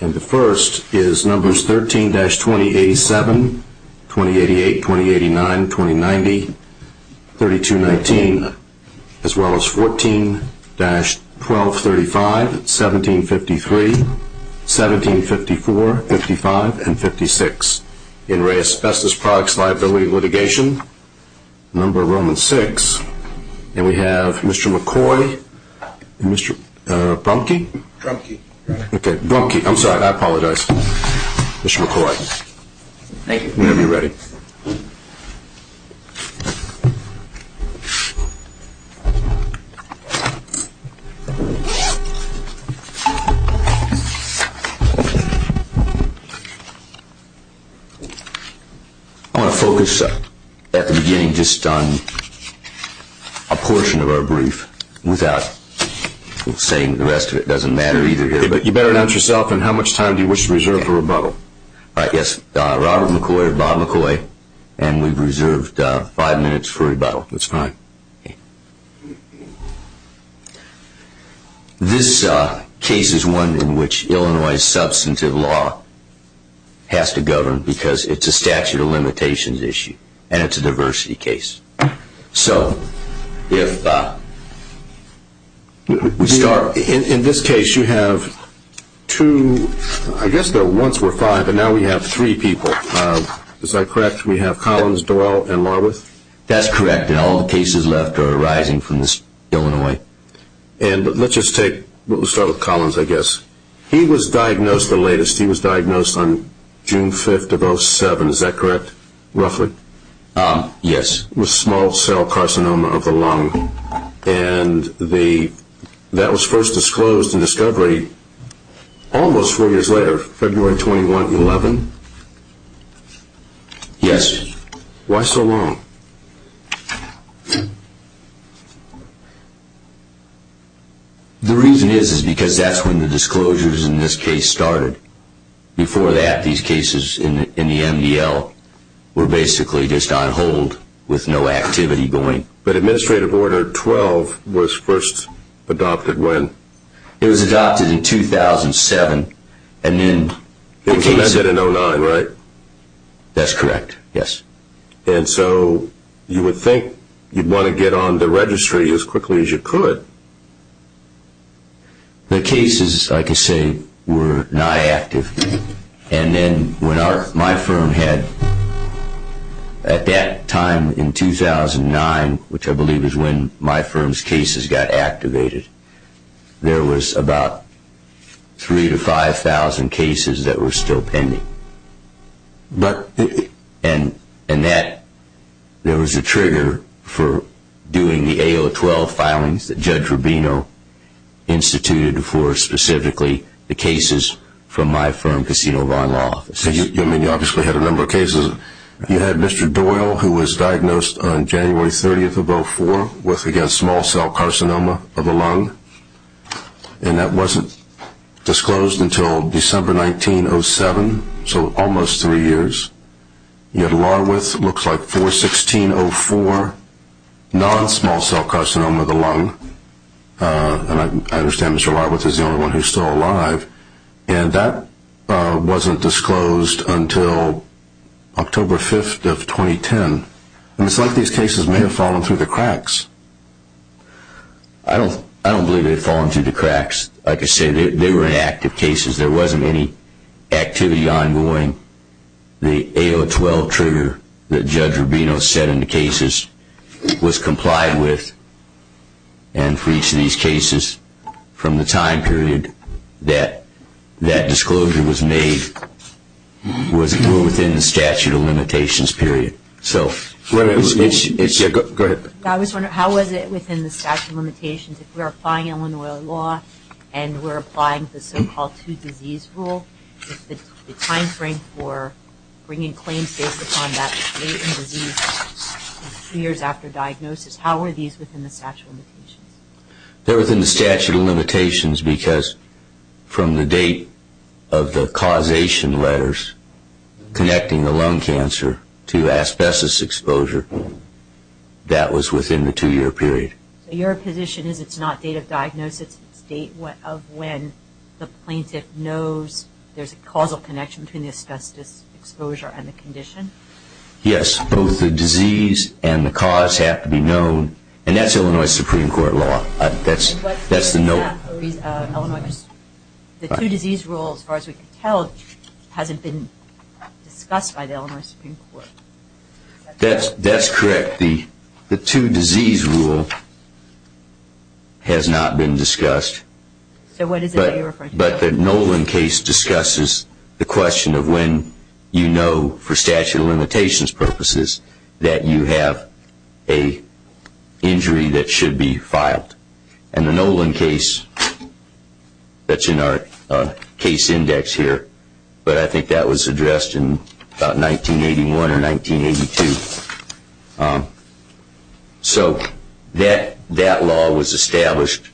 And the first is numbers 13-2087, 2088, 2089, 2090, 3219, as well as 14-1235, 1753, 1754, 55, and 56 in Ray Asbestos Products Liability Litigation, number Roman 6. And we have Mr. McCoy and Mr. Brumke? Brumke. Okay, Brumke. I'm sorry, I apologize. Mr. McCoy. Thank you. Whenever you're ready. I want to focus at the beginning just on a portion of our brief without saying the rest of it. It doesn't matter either here. You better announce yourself and how much time do you wish to reserve for rebuttal? All right, yes. Robert McCoy, Bob McCoy, and we've reserved five minutes for rebuttal. That's fine. This case is one in which Illinois substantive law has to govern because it's a statute of limitations issue and it's a diversity case. So if we start... In this case you have two, I guess though once were five, but now we have three people. Is that correct? We have Collins, Doyle, and Larworth? That's correct, and all the cases left are arising from the state of Illinois. And let's just take, we'll start with Collins, I guess. He was diagnosed, the latest, he was diagnosed on June 5th of 07, is that correct, roughly? Yes. With small cell carcinoma of the lung, and that was first disclosed in discovery almost four years later, February 21, 11? Yes. Why so long? The reason is because that's when the disclosures in this case started. Before that, these cases in the MDL were basically just on hold with no activity going. But administrative order 12 was first adopted when? It was adopted in 2007, and then... It was amended in 09, right? That's correct, yes. And so you would think you'd want to get on the registry as quickly as you could. The cases, I could say, were not active. And then when my firm had, at that time in 2009, which I believe is when my firm's cases got activated, there was about 3,000 to 5,000 cases that were still pending. And that, there was a trigger for doing the AO12 filings that Judge Rubino instituted for specifically the cases from my firm, Casino Vaughn Law Offices. You obviously had a number of cases. You had Mr. Doyle, who was diagnosed on January 30th of 04 with, again, small cell carcinoma of the lung, and that wasn't disclosed until December 1907, so almost three years. You had Larweth, looks like 4-16-04, non-small cell carcinoma of the lung. And I understand Mr. Larweth is the only one who's still alive. And that wasn't disclosed until October 5th of 2010. And it's like these cases may have fallen through the cracks. I don't believe they've fallen through the cracks. Like I said, they were inactive cases. There wasn't any activity ongoing. The AO12 trigger that Judge Rubino set in the cases was complied with, and for each of these cases from the time period that that disclosure was made was within the statute of limitations period. Go ahead. I was wondering, how was it within the statute of limitations if we're applying Illinois law and we're applying the so-called two-disease rule, the time frame for bringing claims based upon that date and disease two years after diagnosis, how are these within the statute of limitations? They're within the statute of limitations because from the date of the causation letters connecting the lung cancer to asbestos exposure, that was within the two-year period. So your position is it's not date of diagnosis, it's date of when the plaintiff knows there's a causal connection between the asbestos exposure and the condition? Yes. Both the disease and the cause have to be known. And that's Illinois Supreme Court law. The two-disease rule, as far as we can tell, hasn't been discussed by the Illinois Supreme Court. That's correct. The two-disease rule has not been discussed. So what is it that you're referring to? But the Nolan case discusses the question of when you know for statute of limitations purposes that you have an injury that should be filed. And the Nolan case, that's in our case index here, but I think that was addressed in about 1981 or 1982. So that law was established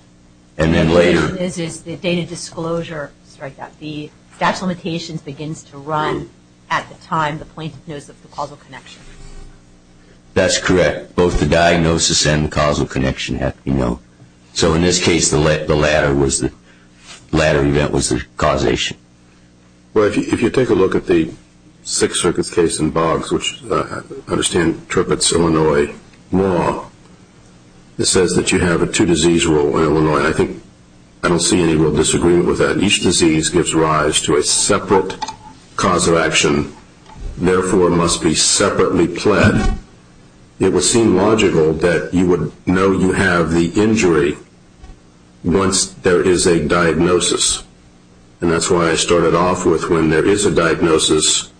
and then later. The question is, is the date of disclosure, sorry, the statute of limitations begins to run at the time the plaintiff knows of the causal connection. That's correct. Both the diagnosis and the causal connection have to be known. So in this case, the latter event was the causation. Well, if you take a look at the Sixth Circuit case in Boggs, which I understand interprets Illinois law, it says that you have a two-disease rule in Illinois. I don't see any real disagreement with that. Each disease gives rise to a separate cause of action, therefore must be separately pled. It would seem logical that you would know you have the injury once there is a diagnosis. And that's why I started off with when there is a diagnosis,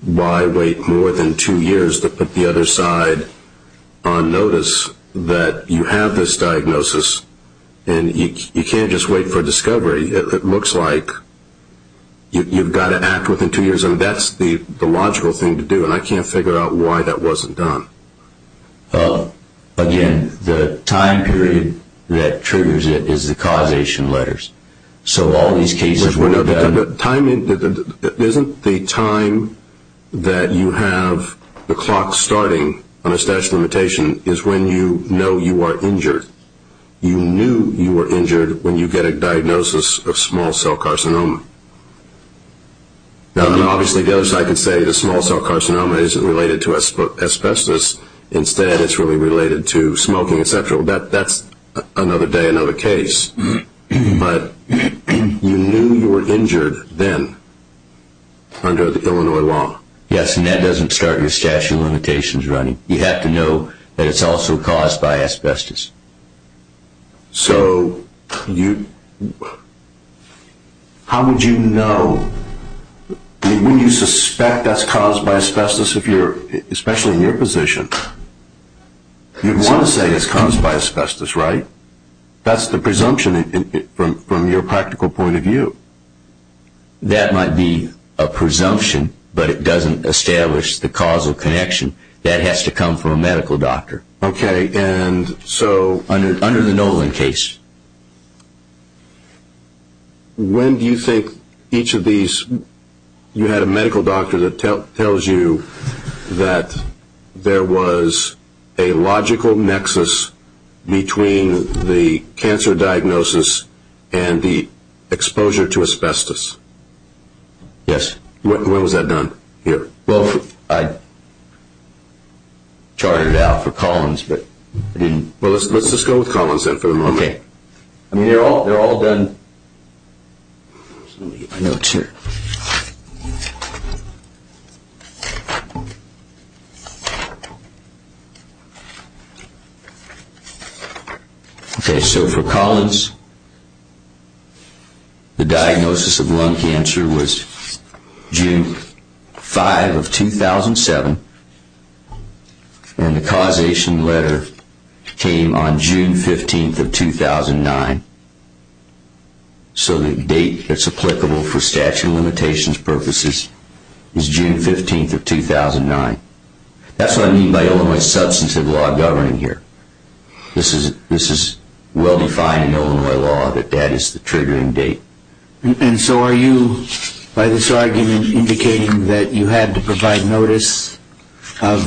why wait more than two years to put the other side on notice that you have this diagnosis? And you can't just wait for discovery. It looks like you've got to act within two years. And that's the logical thing to do. And I can't figure out why that wasn't done. Again, the time period that triggers it is the causation letters. So all these cases were done. Isn't the time that you have the clock starting on a statute of limitation is when you know you are injured? You knew you were injured when you get a diagnosis of small cell carcinoma. Now, obviously, the other side can say the small cell carcinoma isn't related to asbestos. Instead, it's really related to smoking, et cetera. Well, that's another day, another case. But you knew you were injured then under the Illinois law. Yes, and that doesn't start your statute of limitations running. You have to know that it's also caused by asbestos. So how would you know? When you suspect that's caused by asbestos, especially in your position, you'd want to say it's caused by asbestos, right? That's the presumption from your practical point of view. That might be a presumption, but it doesn't establish the causal connection. That has to come from a medical doctor. Okay, and so... Under the Nolan case. When do you think each of these... You had a medical doctor that tells you that there was a logical nexus between the cancer diagnosis and the exposure to asbestos. Yes. When was that done here? Well, I charted it out for Collins, but I didn't... Well, let's just go with Collins then for the moment. Okay. I mean, they're all done... Let me get my notes here. Okay, so for Collins, the diagnosis of lung cancer was June 5 of 2007, and the causation letter came on June 15 of 2009. So the date that's applicable for statute of limitations purposes is June 15 of 2009. That's what I mean by Illinois substantive law governing here. This is well-defined in Illinois law that that is the triggering date. And so are you, by this argument, indicating that you had to provide notice of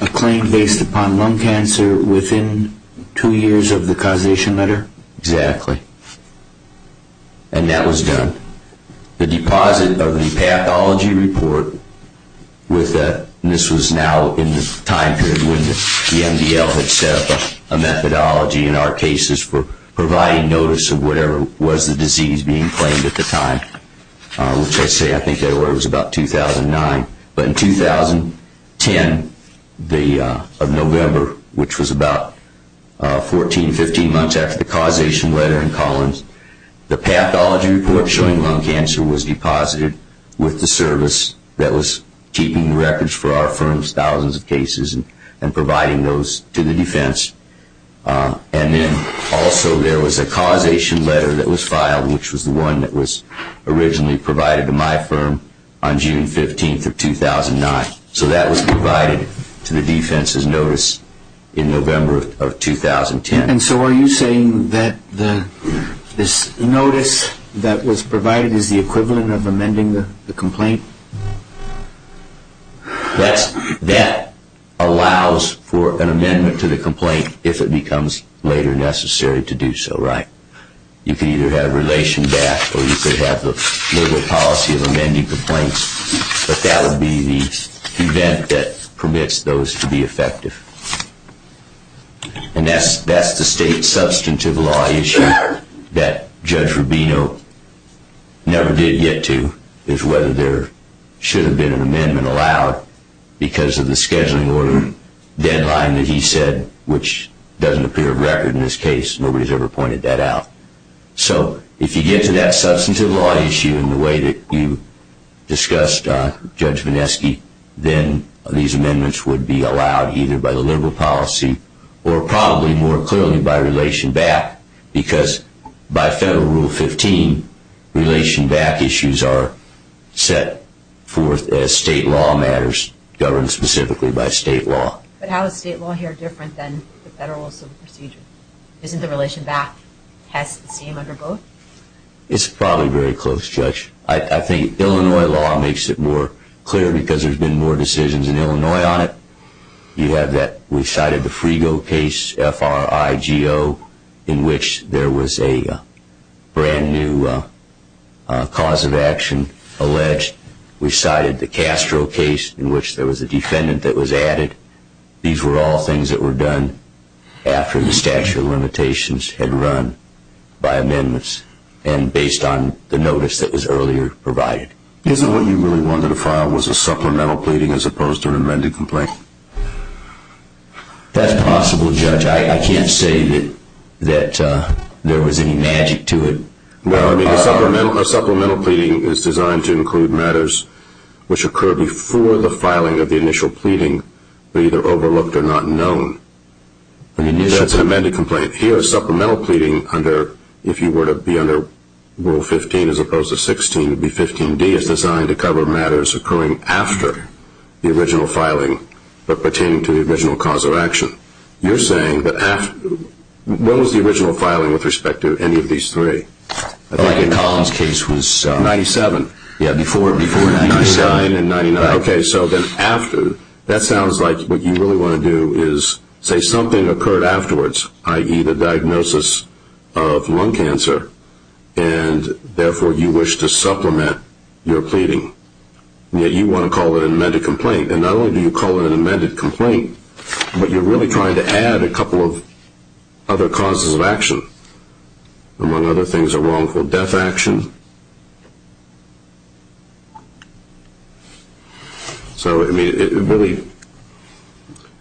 a claim based upon lung cancer within two years of the causation letter? Exactly. And that was done. The deposit of the pathology report with the... This was now in the time period when the MDL had set up a methodology in our cases for providing notice of whatever was the disease being claimed at the time, which I say I think that was about 2009. But in 2010 of November, which was about 14, 15 months after the causation letter in Collins, the pathology report showing lung cancer was deposited with the service that was keeping records for our firm's thousands of cases and providing those to the defense. And then also there was a causation letter that was filed, which was the one that was originally provided to my firm on June 15 of 2009. So that was provided to the defense's notice in November of 2010. And so are you saying that this notice that was provided is the equivalent of amending the complaint? That allows for an amendment to the complaint if it becomes later necessary to do so, right? You can either have relation back or you could have the liberal policy of amending complaints, but that would be the event that permits those to be effective. And that's the state substantive law issue that Judge Rubino never did get to, is whether there should have been an amendment allowed because of the scheduling order deadline that he said, which doesn't appear of record in this case. Nobody's ever pointed that out. So if you get to that substantive law issue in the way that you discussed, Judge Vineski, then these amendments would be allowed either by the liberal policy or probably more clearly by relation back because by Federal Rule 15, relation back issues are set forth as state law matters governed specifically by state law. But how is state law here different than the Federal Civil Procedure? Isn't the relation back test the same under both? It's probably very close, Judge. I think Illinois law makes it more clear because there's been more decisions in Illinois on it. We cited the Frigo case, F-R-I-G-O, in which there was a brand new cause of action alleged. We cited the Castro case in which there was a defendant that was added. These were all things that were done after the statute of limitations had run by amendments and based on the notice that was earlier provided. Isn't what you really wanted to file was a supplemental pleading as opposed to an amended complaint? That's possible, Judge. I can't say that there was any magic to it. No, I mean a supplemental pleading is designed to include matters which occur before the filing of the initial pleading but are either overlooked or not known. That's an amended complaint. Here a supplemental pleading, if you were to be under Rule 15 as opposed to 16, would be 15D. It's designed to cover matters occurring after the original filing but pertaining to the original cause of action. You're saying that after? When was the original filing with respect to any of these three? I think in Collins' case was... 97. Yeah, before 99. Okay, so then after. That sounds like what you really want to do is say something occurred afterwards, i.e. the diagnosis of lung cancer, and therefore you wish to supplement your pleading. Yet you want to call it an amended complaint. Not only do you call it an amended complaint, but you're really trying to add a couple of other causes of action. Among other things, a wrongful death action. So, I mean, it really...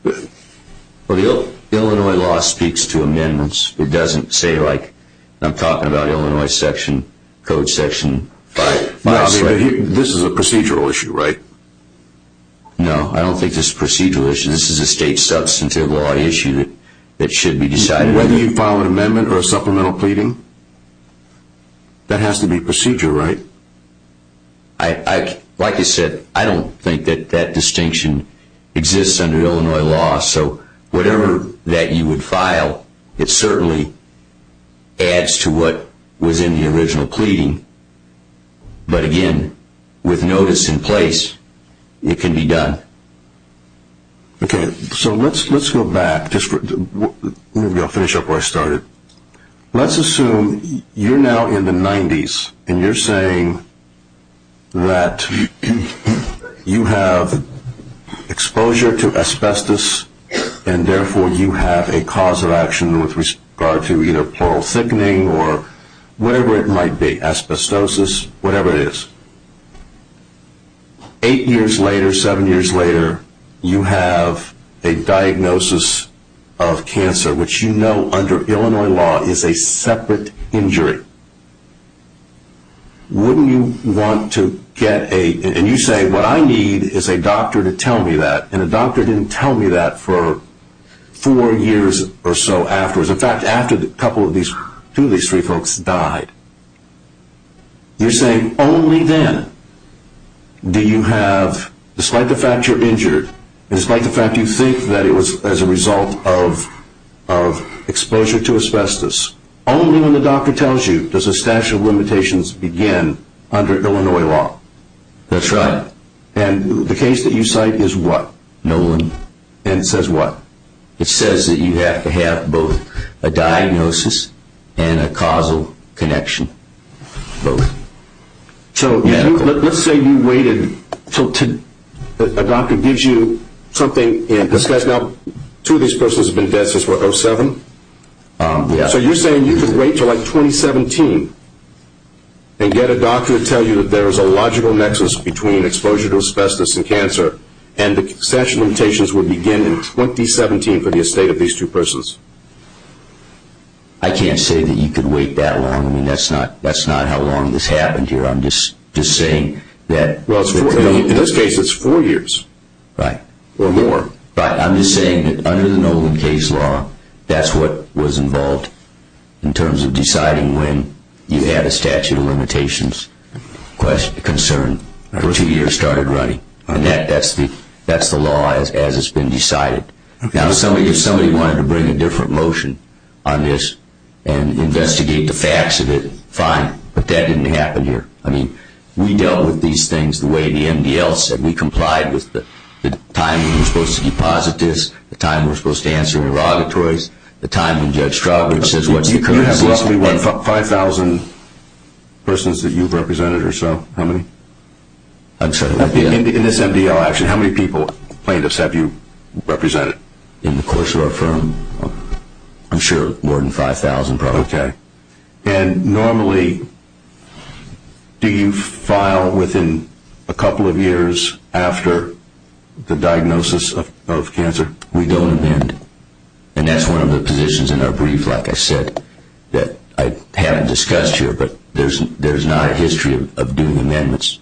Well, the Illinois law speaks to amendments. It doesn't say, like, I'm talking about Illinois section, Code Section 5. This is a procedural issue, right? No, I don't think this is a procedural issue. This is a state substantive law issue that should be decided. Whether you file an amendment or a supplemental pleading, that has to be procedure, right? Like I said, I don't think that that distinction exists under Illinois law. So whatever that you would file, it certainly adds to what was in the original pleading. But again, with notice in place, it can be done. Okay, so let's go back. Maybe I'll finish up where I started. Let's assume you're now in the 90s and you're saying that you have exposure to asbestos and therefore you have a cause of action with regard to either portal thickening or whatever it might be, asbestosis, whatever it is. Eight years later, seven years later, you have a diagnosis of cancer, which you know under Illinois law is a separate injury. Wouldn't you want to get a... And you say, what I need is a doctor to tell me that, and a doctor didn't tell me that for four years or so afterwards. In fact, after two of these three folks died. You're saying only then do you have, despite the fact you're injured and despite the fact you think that it was as a result of exposure to asbestos, only when the doctor tells you does a statute of limitations begin under Illinois law. That's right. And the case that you cite is what? Nolan. And it says what? It says that you have to have both a diagnosis and a causal connection, both. So let's say you waited until a doctor gives you something. Now, two of these persons have been dead since, what, 2007? Yes. So you're saying you could wait until like 2017 and get a doctor to tell you that there is a logical nexus between exposure to asbestos and cancer and the statute of limitations would begin in 2017 for the estate of these two persons. I can't say that you could wait that long. I mean, that's not how long this happened here. I'm just saying that. Well, in this case it's four years. Right. Or more. Right. I'm just saying that under the Nolan case law, that's what was involved in terms of deciding when you had a statute of limitations concern for two years started running. And that's the law as it's been decided. Now, if somebody wanted to bring a different motion on this and investigate the facts of it, fine. But that didn't happen here. I mean, we dealt with these things the way the MDL said. We complied with the time we were supposed to deposit this, the time we were supposed to answer inerogatories, the time when Judge Straubrich says what's the current system. You have roughly 5,000 persons that you've represented or so. How many? I'm sorry. In this MDL action, how many plaintiffs have you represented? In the course of our firm, I'm sure more than 5,000 probably. Okay. And normally do you file within a couple of years after the diagnosis of cancer? We don't amend. And that's one of the positions in our brief, like I said, that I haven't discussed here, but there's not a history of doing amendments.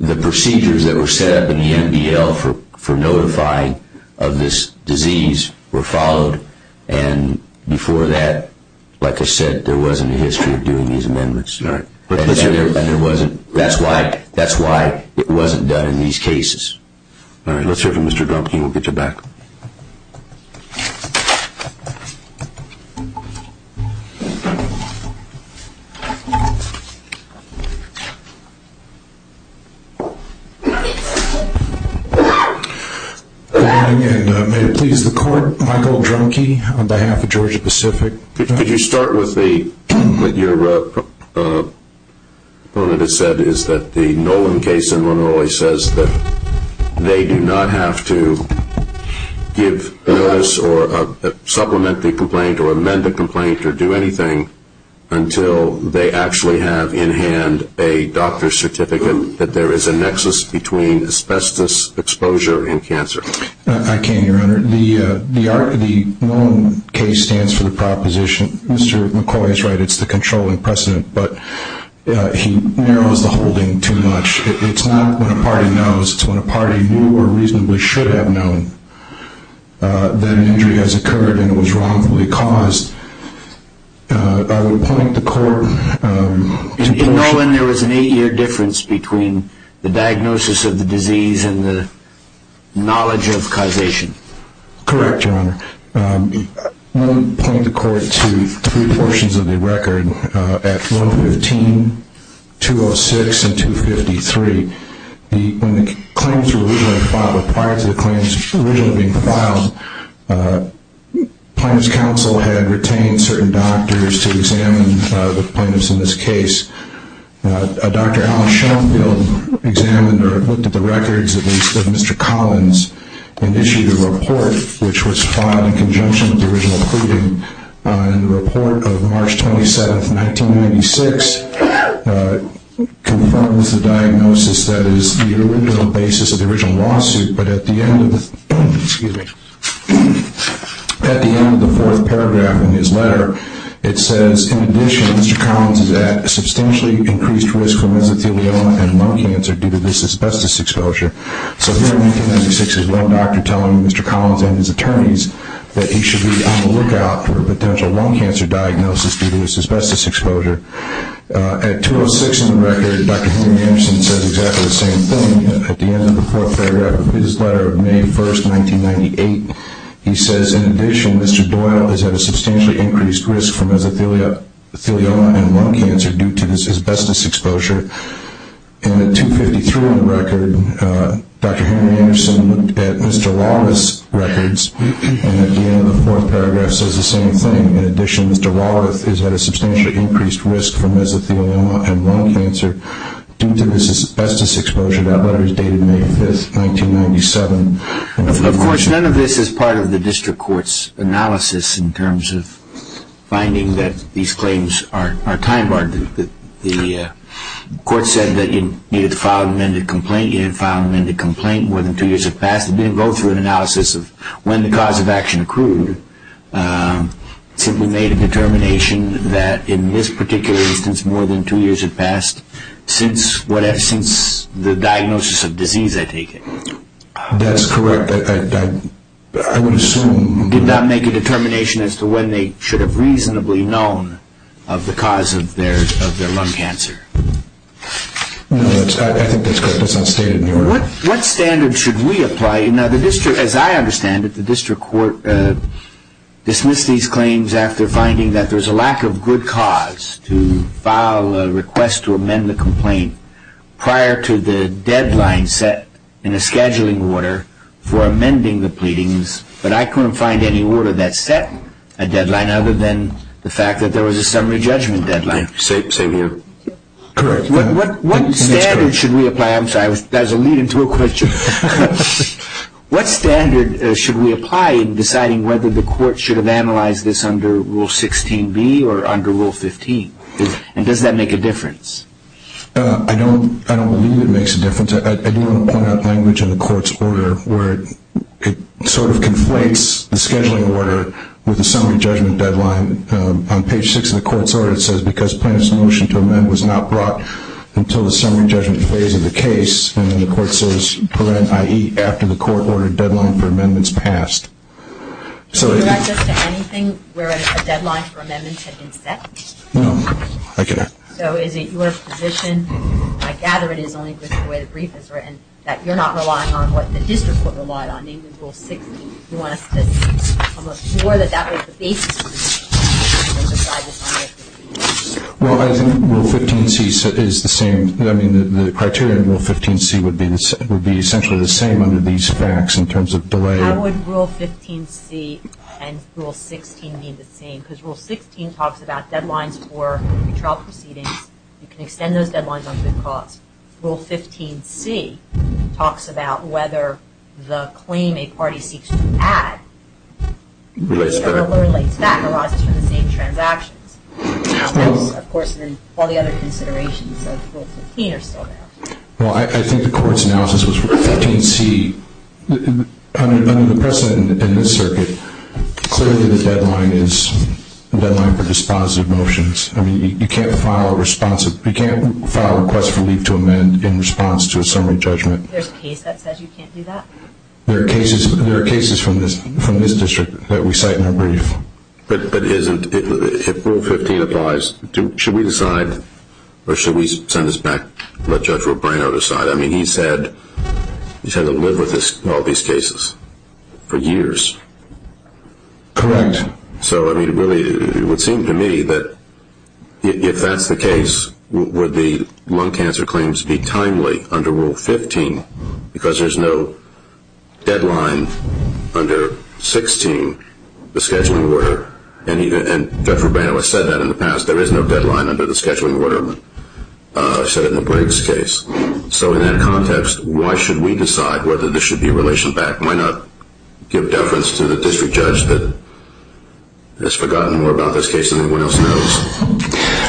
The procedures that were set up in the MDL for notifying of this disease were followed, and before that, like I said, there wasn't a history of doing these amendments. All right. And that's why it wasn't done in these cases. All right. Let's hear from Mr. Drumke. We'll get you back. Good morning, and may it please the Court, Michael Drumke on behalf of Georgia Pacific. Could you start with what your opponent has said, is that the Nolan case in Illinois says that they do not have to give notice or supplement the complaint or amend the complaint or do anything until they actually have in hand a doctor's certificate that there is a nexus between asbestos exposure and cancer. I can, Your Honor. Your Honor, the Nolan case stands for the proposition. Mr. McCoy is right. It's the controlling precedent, but he narrows the whole thing too much. It's not when a party knows. It's when a party knew or reasonably should have known that an injury has occurred and it was wrongfully caused. I would point the Court to- In Nolan, there was an eight-year difference between the diagnosis of the disease and the knowledge of causation. Correct, Your Honor. I would point the Court to three portions of the record. At 115, 206, and 253, when the claims were originally filed, or prior to the claims originally being filed, plaintiffs' counsel had retained certain doctors to examine the plaintiffs in this case. Dr. Alan Sheffield examined or looked at the records of Mr. Collins and issued a report which was filed in conjunction with the original pleading. The report of March 27, 1996, confirms the diagnosis that is the original basis of the original lawsuit, but at the end of the fourth paragraph in his letter, it says, In addition, Mr. Collins is at a substantially increased risk for mesothelioma and lung cancer due to this asbestos exposure. So here in 1996, there's one doctor telling Mr. Collins and his attorneys that he should be on the lookout for a potential lung cancer diagnosis due to this asbestos exposure. At 206 in the record, Dr. Henry Manson says exactly the same thing. At the end of the fourth paragraph of his letter of May 1, 1998, he says, In addition, Mr. Doyle is at a substantially increased risk for mesothelioma and lung cancer due to this asbestos exposure. And at 253 in the record, Dr. Henry Anderson looked at Mr. Walras' records and at the end of the fourth paragraph says the same thing. In addition, Mr. Walras is at a substantially increased risk for mesothelioma and lung cancer due to this asbestos exposure. That letter is dated May 5, 1997. Of course, none of this is part of the district court's analysis in terms of finding that these claims are time-barred. The court said that it needed to file an amended complaint. It had filed an amended complaint. More than two years had passed. It didn't go through an analysis of when the cause of action accrued. It simply made a determination that in this particular instance, more than two years had passed since the diagnosis of disease, I take it. That's correct. I would assume. Did not make a determination as to when they should have reasonably known of the cause of their lung cancer. No, I think that's correct. That's not stated in the order. What standard should we apply? Now, as I understand it, the district court dismissed these claims after finding that there's a lack of good cause to file a request to amend the complaint prior to the deadline set in a scheduling order for amending the pleadings, but I couldn't find any order that set a deadline other than the fact that there was a summary judgment deadline. Same here. Correct. What standard should we apply? I'm sorry. That was a lead-in to a question. What standard should we apply in deciding whether the court should have analyzed this under Rule 16b or under Rule 15, and does that make a difference? I don't believe it makes a difference. I do want to point out language in the court's order where it sort of conflates the scheduling order with the summary judgment deadline. On page 6 of the court's order it says, because plaintiff's motion to amend was not brought until the summary judgment phase of the case, and then the court says, i.e., after the court ordered deadline for amendments passed. Can you direct us to anything where a deadline for amendments had been set? No, I can't. So is it your position, and I gather it is only because of the way the brief is written, that you're not relying on what the district court relied on, namely Rule 16? Do you want us to come up with more that that was the basis for the decision to decide this under Rule 15c? Well, I think Rule 15c is the same. I mean, the criteria in Rule 15c would be essentially the same under these facts in terms of delay. How would Rule 15c and Rule 16 be the same? Because Rule 16 talks about deadlines for trial proceedings. You can extend those deadlines on good cause. Rule 15c talks about whether the claim a party seeks to add relates to that and arises from the same transactions. Of course, all the other considerations of Rule 15 are still there. Well, I think the court's analysis was Rule 15c. Under the precedent in this circuit, clearly the deadline is the deadline for dispositive motions. I mean, you can't file a request for leave to amend in response to a summary judgment. There's a case that says you can't do that? There are cases from this district that we cite in our brief. But if Rule 15 applies, should we decide or should we send this back and let Judge Robrano decide? I mean, he's had to live with all these cases for years. Correct. So, I mean, it would seem to me that if that's the case, would the lung cancer claims be timely under Rule 15 because there's no deadline under 16, the scheduling order? And Judge Robrano has said that in the past. There is no deadline under the scheduling order set in the Briggs case. So in that context, why should we decide whether there should be a relation back? Why not give deference to the district judge that has forgotten more about this case than anyone else knows?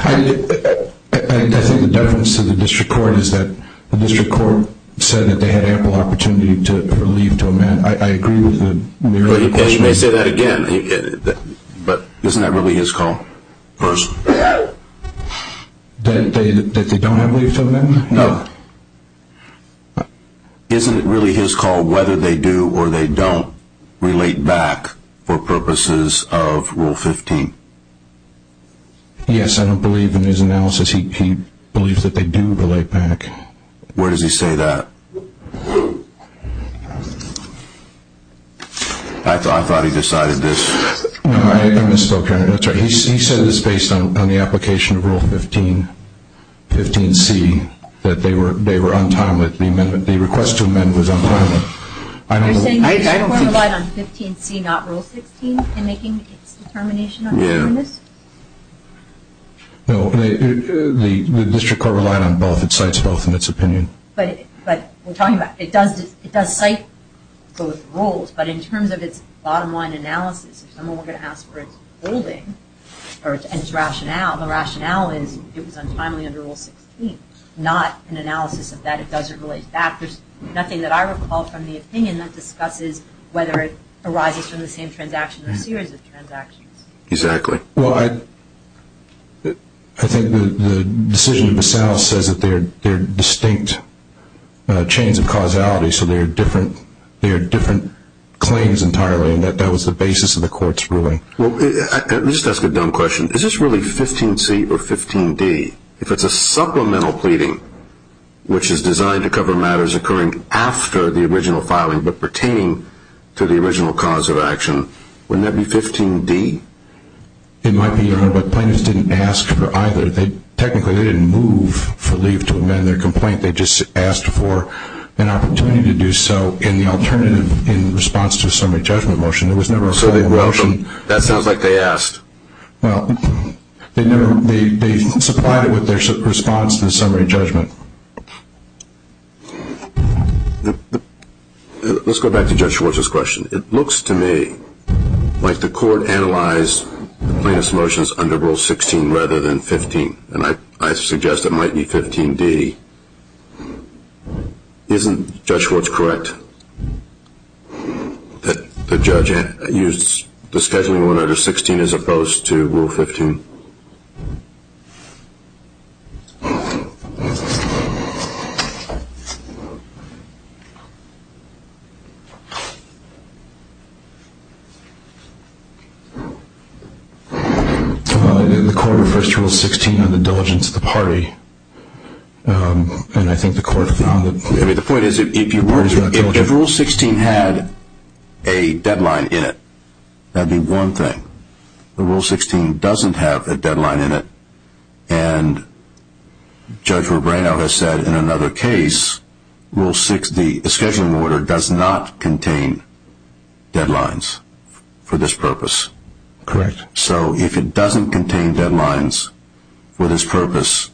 I think the deference to the district court is that the district court said that they had ample opportunity for leave to amend. I agree with the question. And you may say that again, but isn't that really his call? That they don't have leave to amend? No. Isn't it really his call whether they do or they don't relate back for purposes of Rule 15? Yes, I don't believe in his analysis. He believes that they do relate back. Where does he say that? I thought he decided this. I misspoke here. He said this based on the application of Rule 15, 15C, that they were on time. The request to amend was on time. You're saying the district court relied on 15C, not Rule 16, in making its determination on this? Yes. No, the district court relied on both. It cites both in its opinion. But we're talking about it does cite both rules, but in terms of its bottom line analysis, if someone were going to ask for its holding or its rationale, the rationale is it was untimely under Rule 16, not an analysis of that. It doesn't relate back. There's nothing that I recall from the opinion that discusses whether it arises from the same transaction or series of transactions. Exactly. Well, I think the decision of the South says that they're distinct chains of causality, so they are different claims entirely, and that was the basis of the court's ruling. Let me just ask a dumb question. Is this really 15C or 15D? If it's a supplemental pleading, which is designed to cover matters occurring after the original filing but pertaining to the original cause of action, wouldn't that be 15D? It might be, Your Honor, but plaintiffs didn't ask for either. Technically, they didn't move for leave to amend their complaint. They just asked for an opportunity to do so in the alternative in response to a summary judgment motion. It was never a final motion. That sounds like they asked. Well, they supplied it with their response to the summary judgment. Let's go back to Judge Schwartz's question. It looks to me like the court analyzed the plaintiff's motions under Rule 16 rather than 15, and I suggest it might be 15D. Isn't Judge Schwartz correct that the judge used the scheduling order under 16 as opposed to Rule 15? The court refers to Rule 16 on the diligence of the party, and I think the court found that parties are not diligent. If Rule 16 had a deadline in it, that would be one thing. But Rule 16 doesn't have a deadline in it, and Judge Rebrano has said in another case, the scheduling order does not contain deadlines for this purpose. Correct. So if it doesn't contain deadlines for this purpose,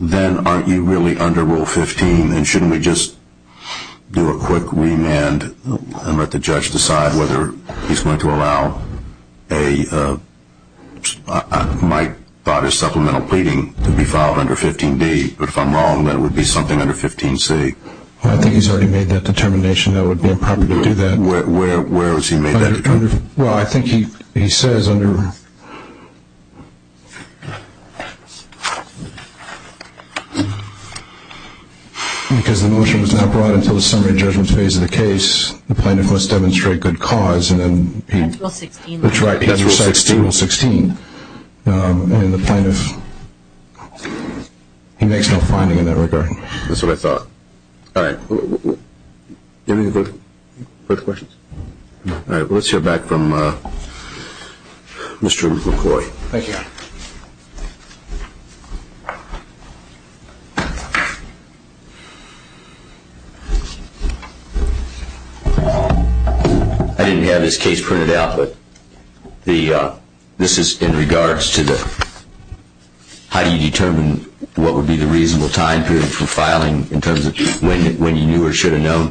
then aren't you really under Rule 15, and shouldn't we just do a quick remand and let the judge decide whether he's going to allow a supplemental pleading to be filed under 15D? But if I'm wrong, that would be something under 15C. I think he's already made that determination that it would be improper to do that. Where has he made that determination? Well, I think he says under – because the motion was not brought until the summary judgment phase of the case, the plaintiff must demonstrate good cause, and then he – That's Rule 16. That's right. That's Rule 16. That's Rule 16. And the plaintiff – he makes no finding in that regard. That's what I thought. All right. Do you have any further questions? All right. Let's hear back from Mr. McCoy. Thank you. I didn't have this case printed out, but this is in regards to the – how do you determine what would be the reasonable time period for filing in terms of when you knew or should have known?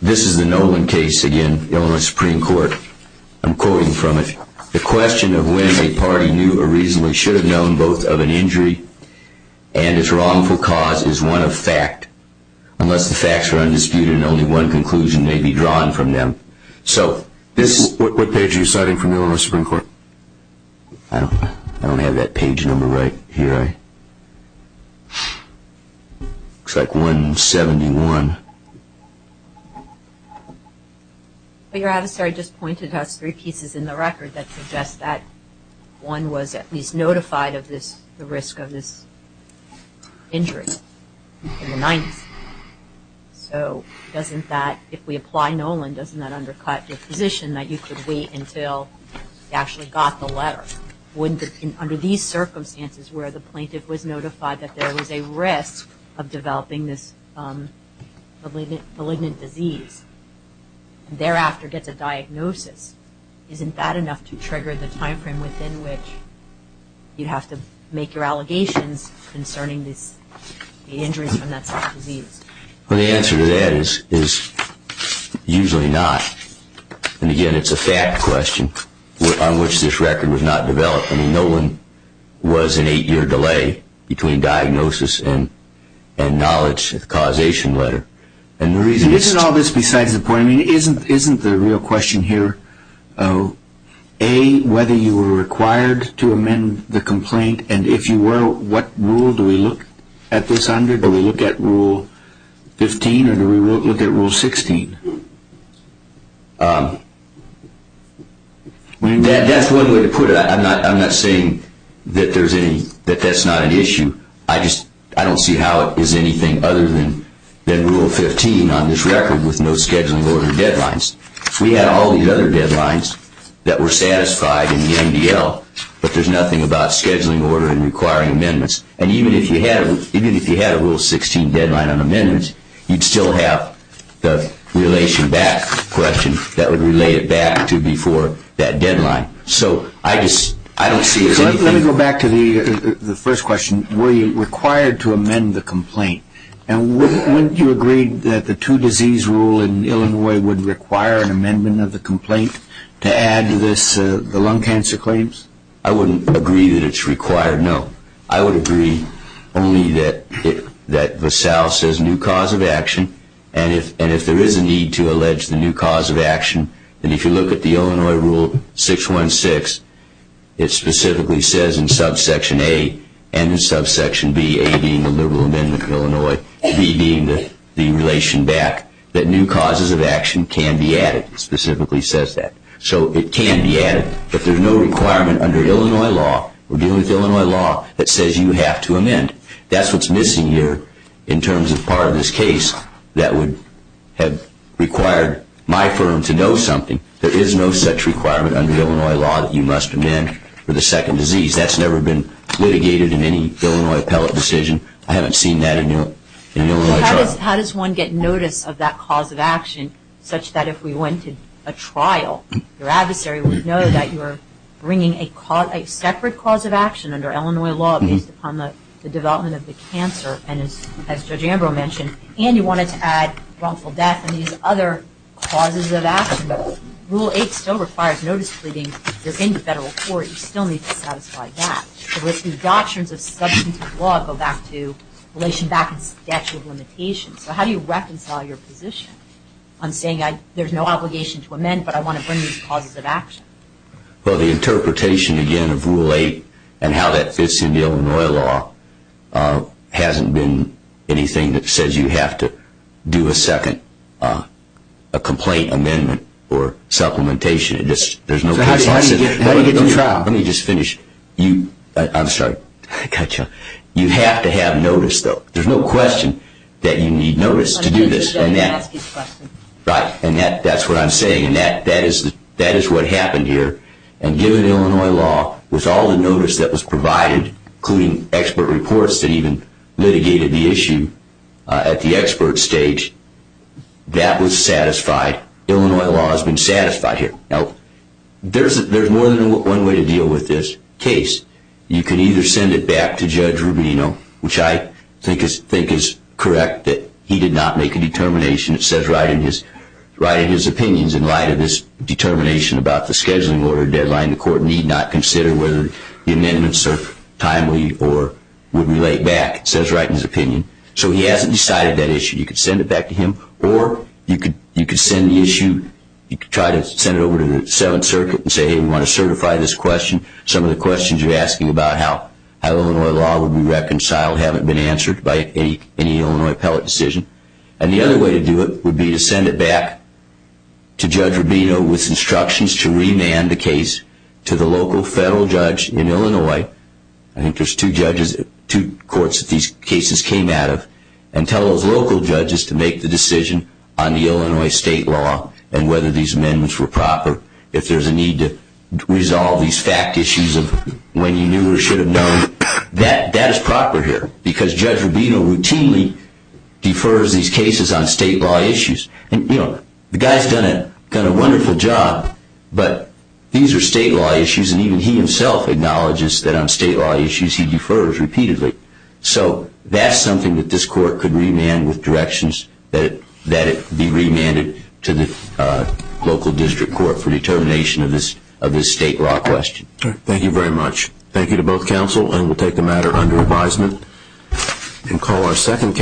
This is the Nolan case, again, Illinois Supreme Court. I'm quoting from it. The question of when a party knew or reasonably should have known both of an injury and its wrongful cause is one of fact, unless the facts are undisputed and only one conclusion may be drawn from them. So this is – What page are you citing from Illinois Supreme Court? I don't have that page number right here. All right. Looks like 171. But your adversary just pointed to us three pieces in the record that suggest that one was at least notified of this – the risk of this injury in the 90s. So doesn't that – if we apply Nolan, doesn't that undercut your position that you could wait until you actually got the letter? Under these circumstances where the plaintiff was notified that there was a risk of developing this malignant disease and thereafter gets a diagnosis, isn't that enough to trigger the timeframe within which you'd have to make your allegations concerning the injuries from that disease? Well, the answer to that is usually not. And again, it's a fact question on which this record was not developed. I mean, Nolan was an eight-year delay between diagnosis and knowledge of the causation letter. And the reason – Isn't all this besides the point – I mean, isn't the real question here, A, whether you were required to amend the complaint, and if you were, what rule do we look at this under? Do we look at Rule 15 or do we look at Rule 16? That's one way to put it. I'm not saying that there's any – that that's not an issue. I just – I don't see how it is anything other than Rule 15 on this record with no scheduling order deadlines. We had all these other deadlines that were satisfied in the MDL, but there's nothing about scheduling order and requiring amendments. And even if you had a Rule 16 deadline on amendments, you'd still have the relation back question that would relay it back to before that deadline. So I just – I don't see it as anything – So let me go back to the first question. Were you required to amend the complaint? And wouldn't you agree that the two-disease rule in Illinois would require an amendment of the complaint to add to this, the lung cancer claims? I wouldn't agree that it's required, no. I would agree only that VASAL says new cause of action, and if there is a need to allege the new cause of action, then if you look at the Illinois Rule 616, it specifically says in subsection A and in subsection B, A being the liberal amendment of Illinois, B being the relation back, that new causes of action can be added. It specifically says that. So it can be added. If there's no requirement under Illinois law, or dealing with Illinois law, that says you have to amend, that's what's missing here in terms of part of this case that would have required my firm to know something. There is no such requirement under Illinois law that you must amend for the second disease. That's never been litigated in any Illinois appellate decision. I haven't seen that in the Illinois trial. How does one get notice of that cause of action such that if we went to a trial, your adversary would know that you are bringing a separate cause of action under Illinois law based upon the development of the cancer, and as Judge Ambrose mentioned, and you wanted to add wrongful death and these other causes of action. Rule 8 still requires notice pleading. If you're in the federal court, you still need to satisfy that. So it's the doctrines of substantive law go back to relation back and statute of limitations. So how do you reconcile your position on saying there's no obligation to amend, but I want to bring these causes of action? Well, the interpretation, again, of Rule 8 and how that fits into Illinois law hasn't been anything that says you have to do a second complaint amendment or supplementation. Let me just finish. I'm sorry. You have to have notice, though. There's no question that you need notice to do this. Right, and that's what I'm saying, and that is what happened here. And given Illinois law, with all the notice that was provided, including expert reports that even litigated the issue at the expert stage, that was satisfied. Illinois law has been satisfied here. Now, there's more than one way to deal with this case. You could either send it back to Judge Rubino, which I think is correct that he did not make a determination. It says right in his opinions, in light of his determination about the scheduling order deadline, the court need not consider whether the amendments are timely or would be laid back. It says right in his opinion. So he hasn't decided that issue. You could send it back to him, or you could send the issue. You could try to send it over to the Seventh Circuit and say, hey, we want to certify this question. Some of the questions you're asking about how Illinois law would be reconciled haven't been answered by any Illinois appellate decision. And the other way to do it would be to send it back to Judge Rubino with instructions to remand the case to the local federal judge in Illinois. I think there's two judges, two courts that these cases came out of, and tell those local judges to make the decision on the Illinois state law and whether these amendments were proper. If there's a need to resolve these fact issues of when you knew or should have known, that is proper here because Judge Rubino routinely defers these cases on state law issues. The guy's done a wonderful job, but these are state law issues, and even he himself acknowledges that on state law issues he defers repeatedly. So that's something that this court could remand with directions that it be remanded to the local district court for determination of this state law question. Thank you very much. Thank you to both counsel, and we'll take the matter under advisement.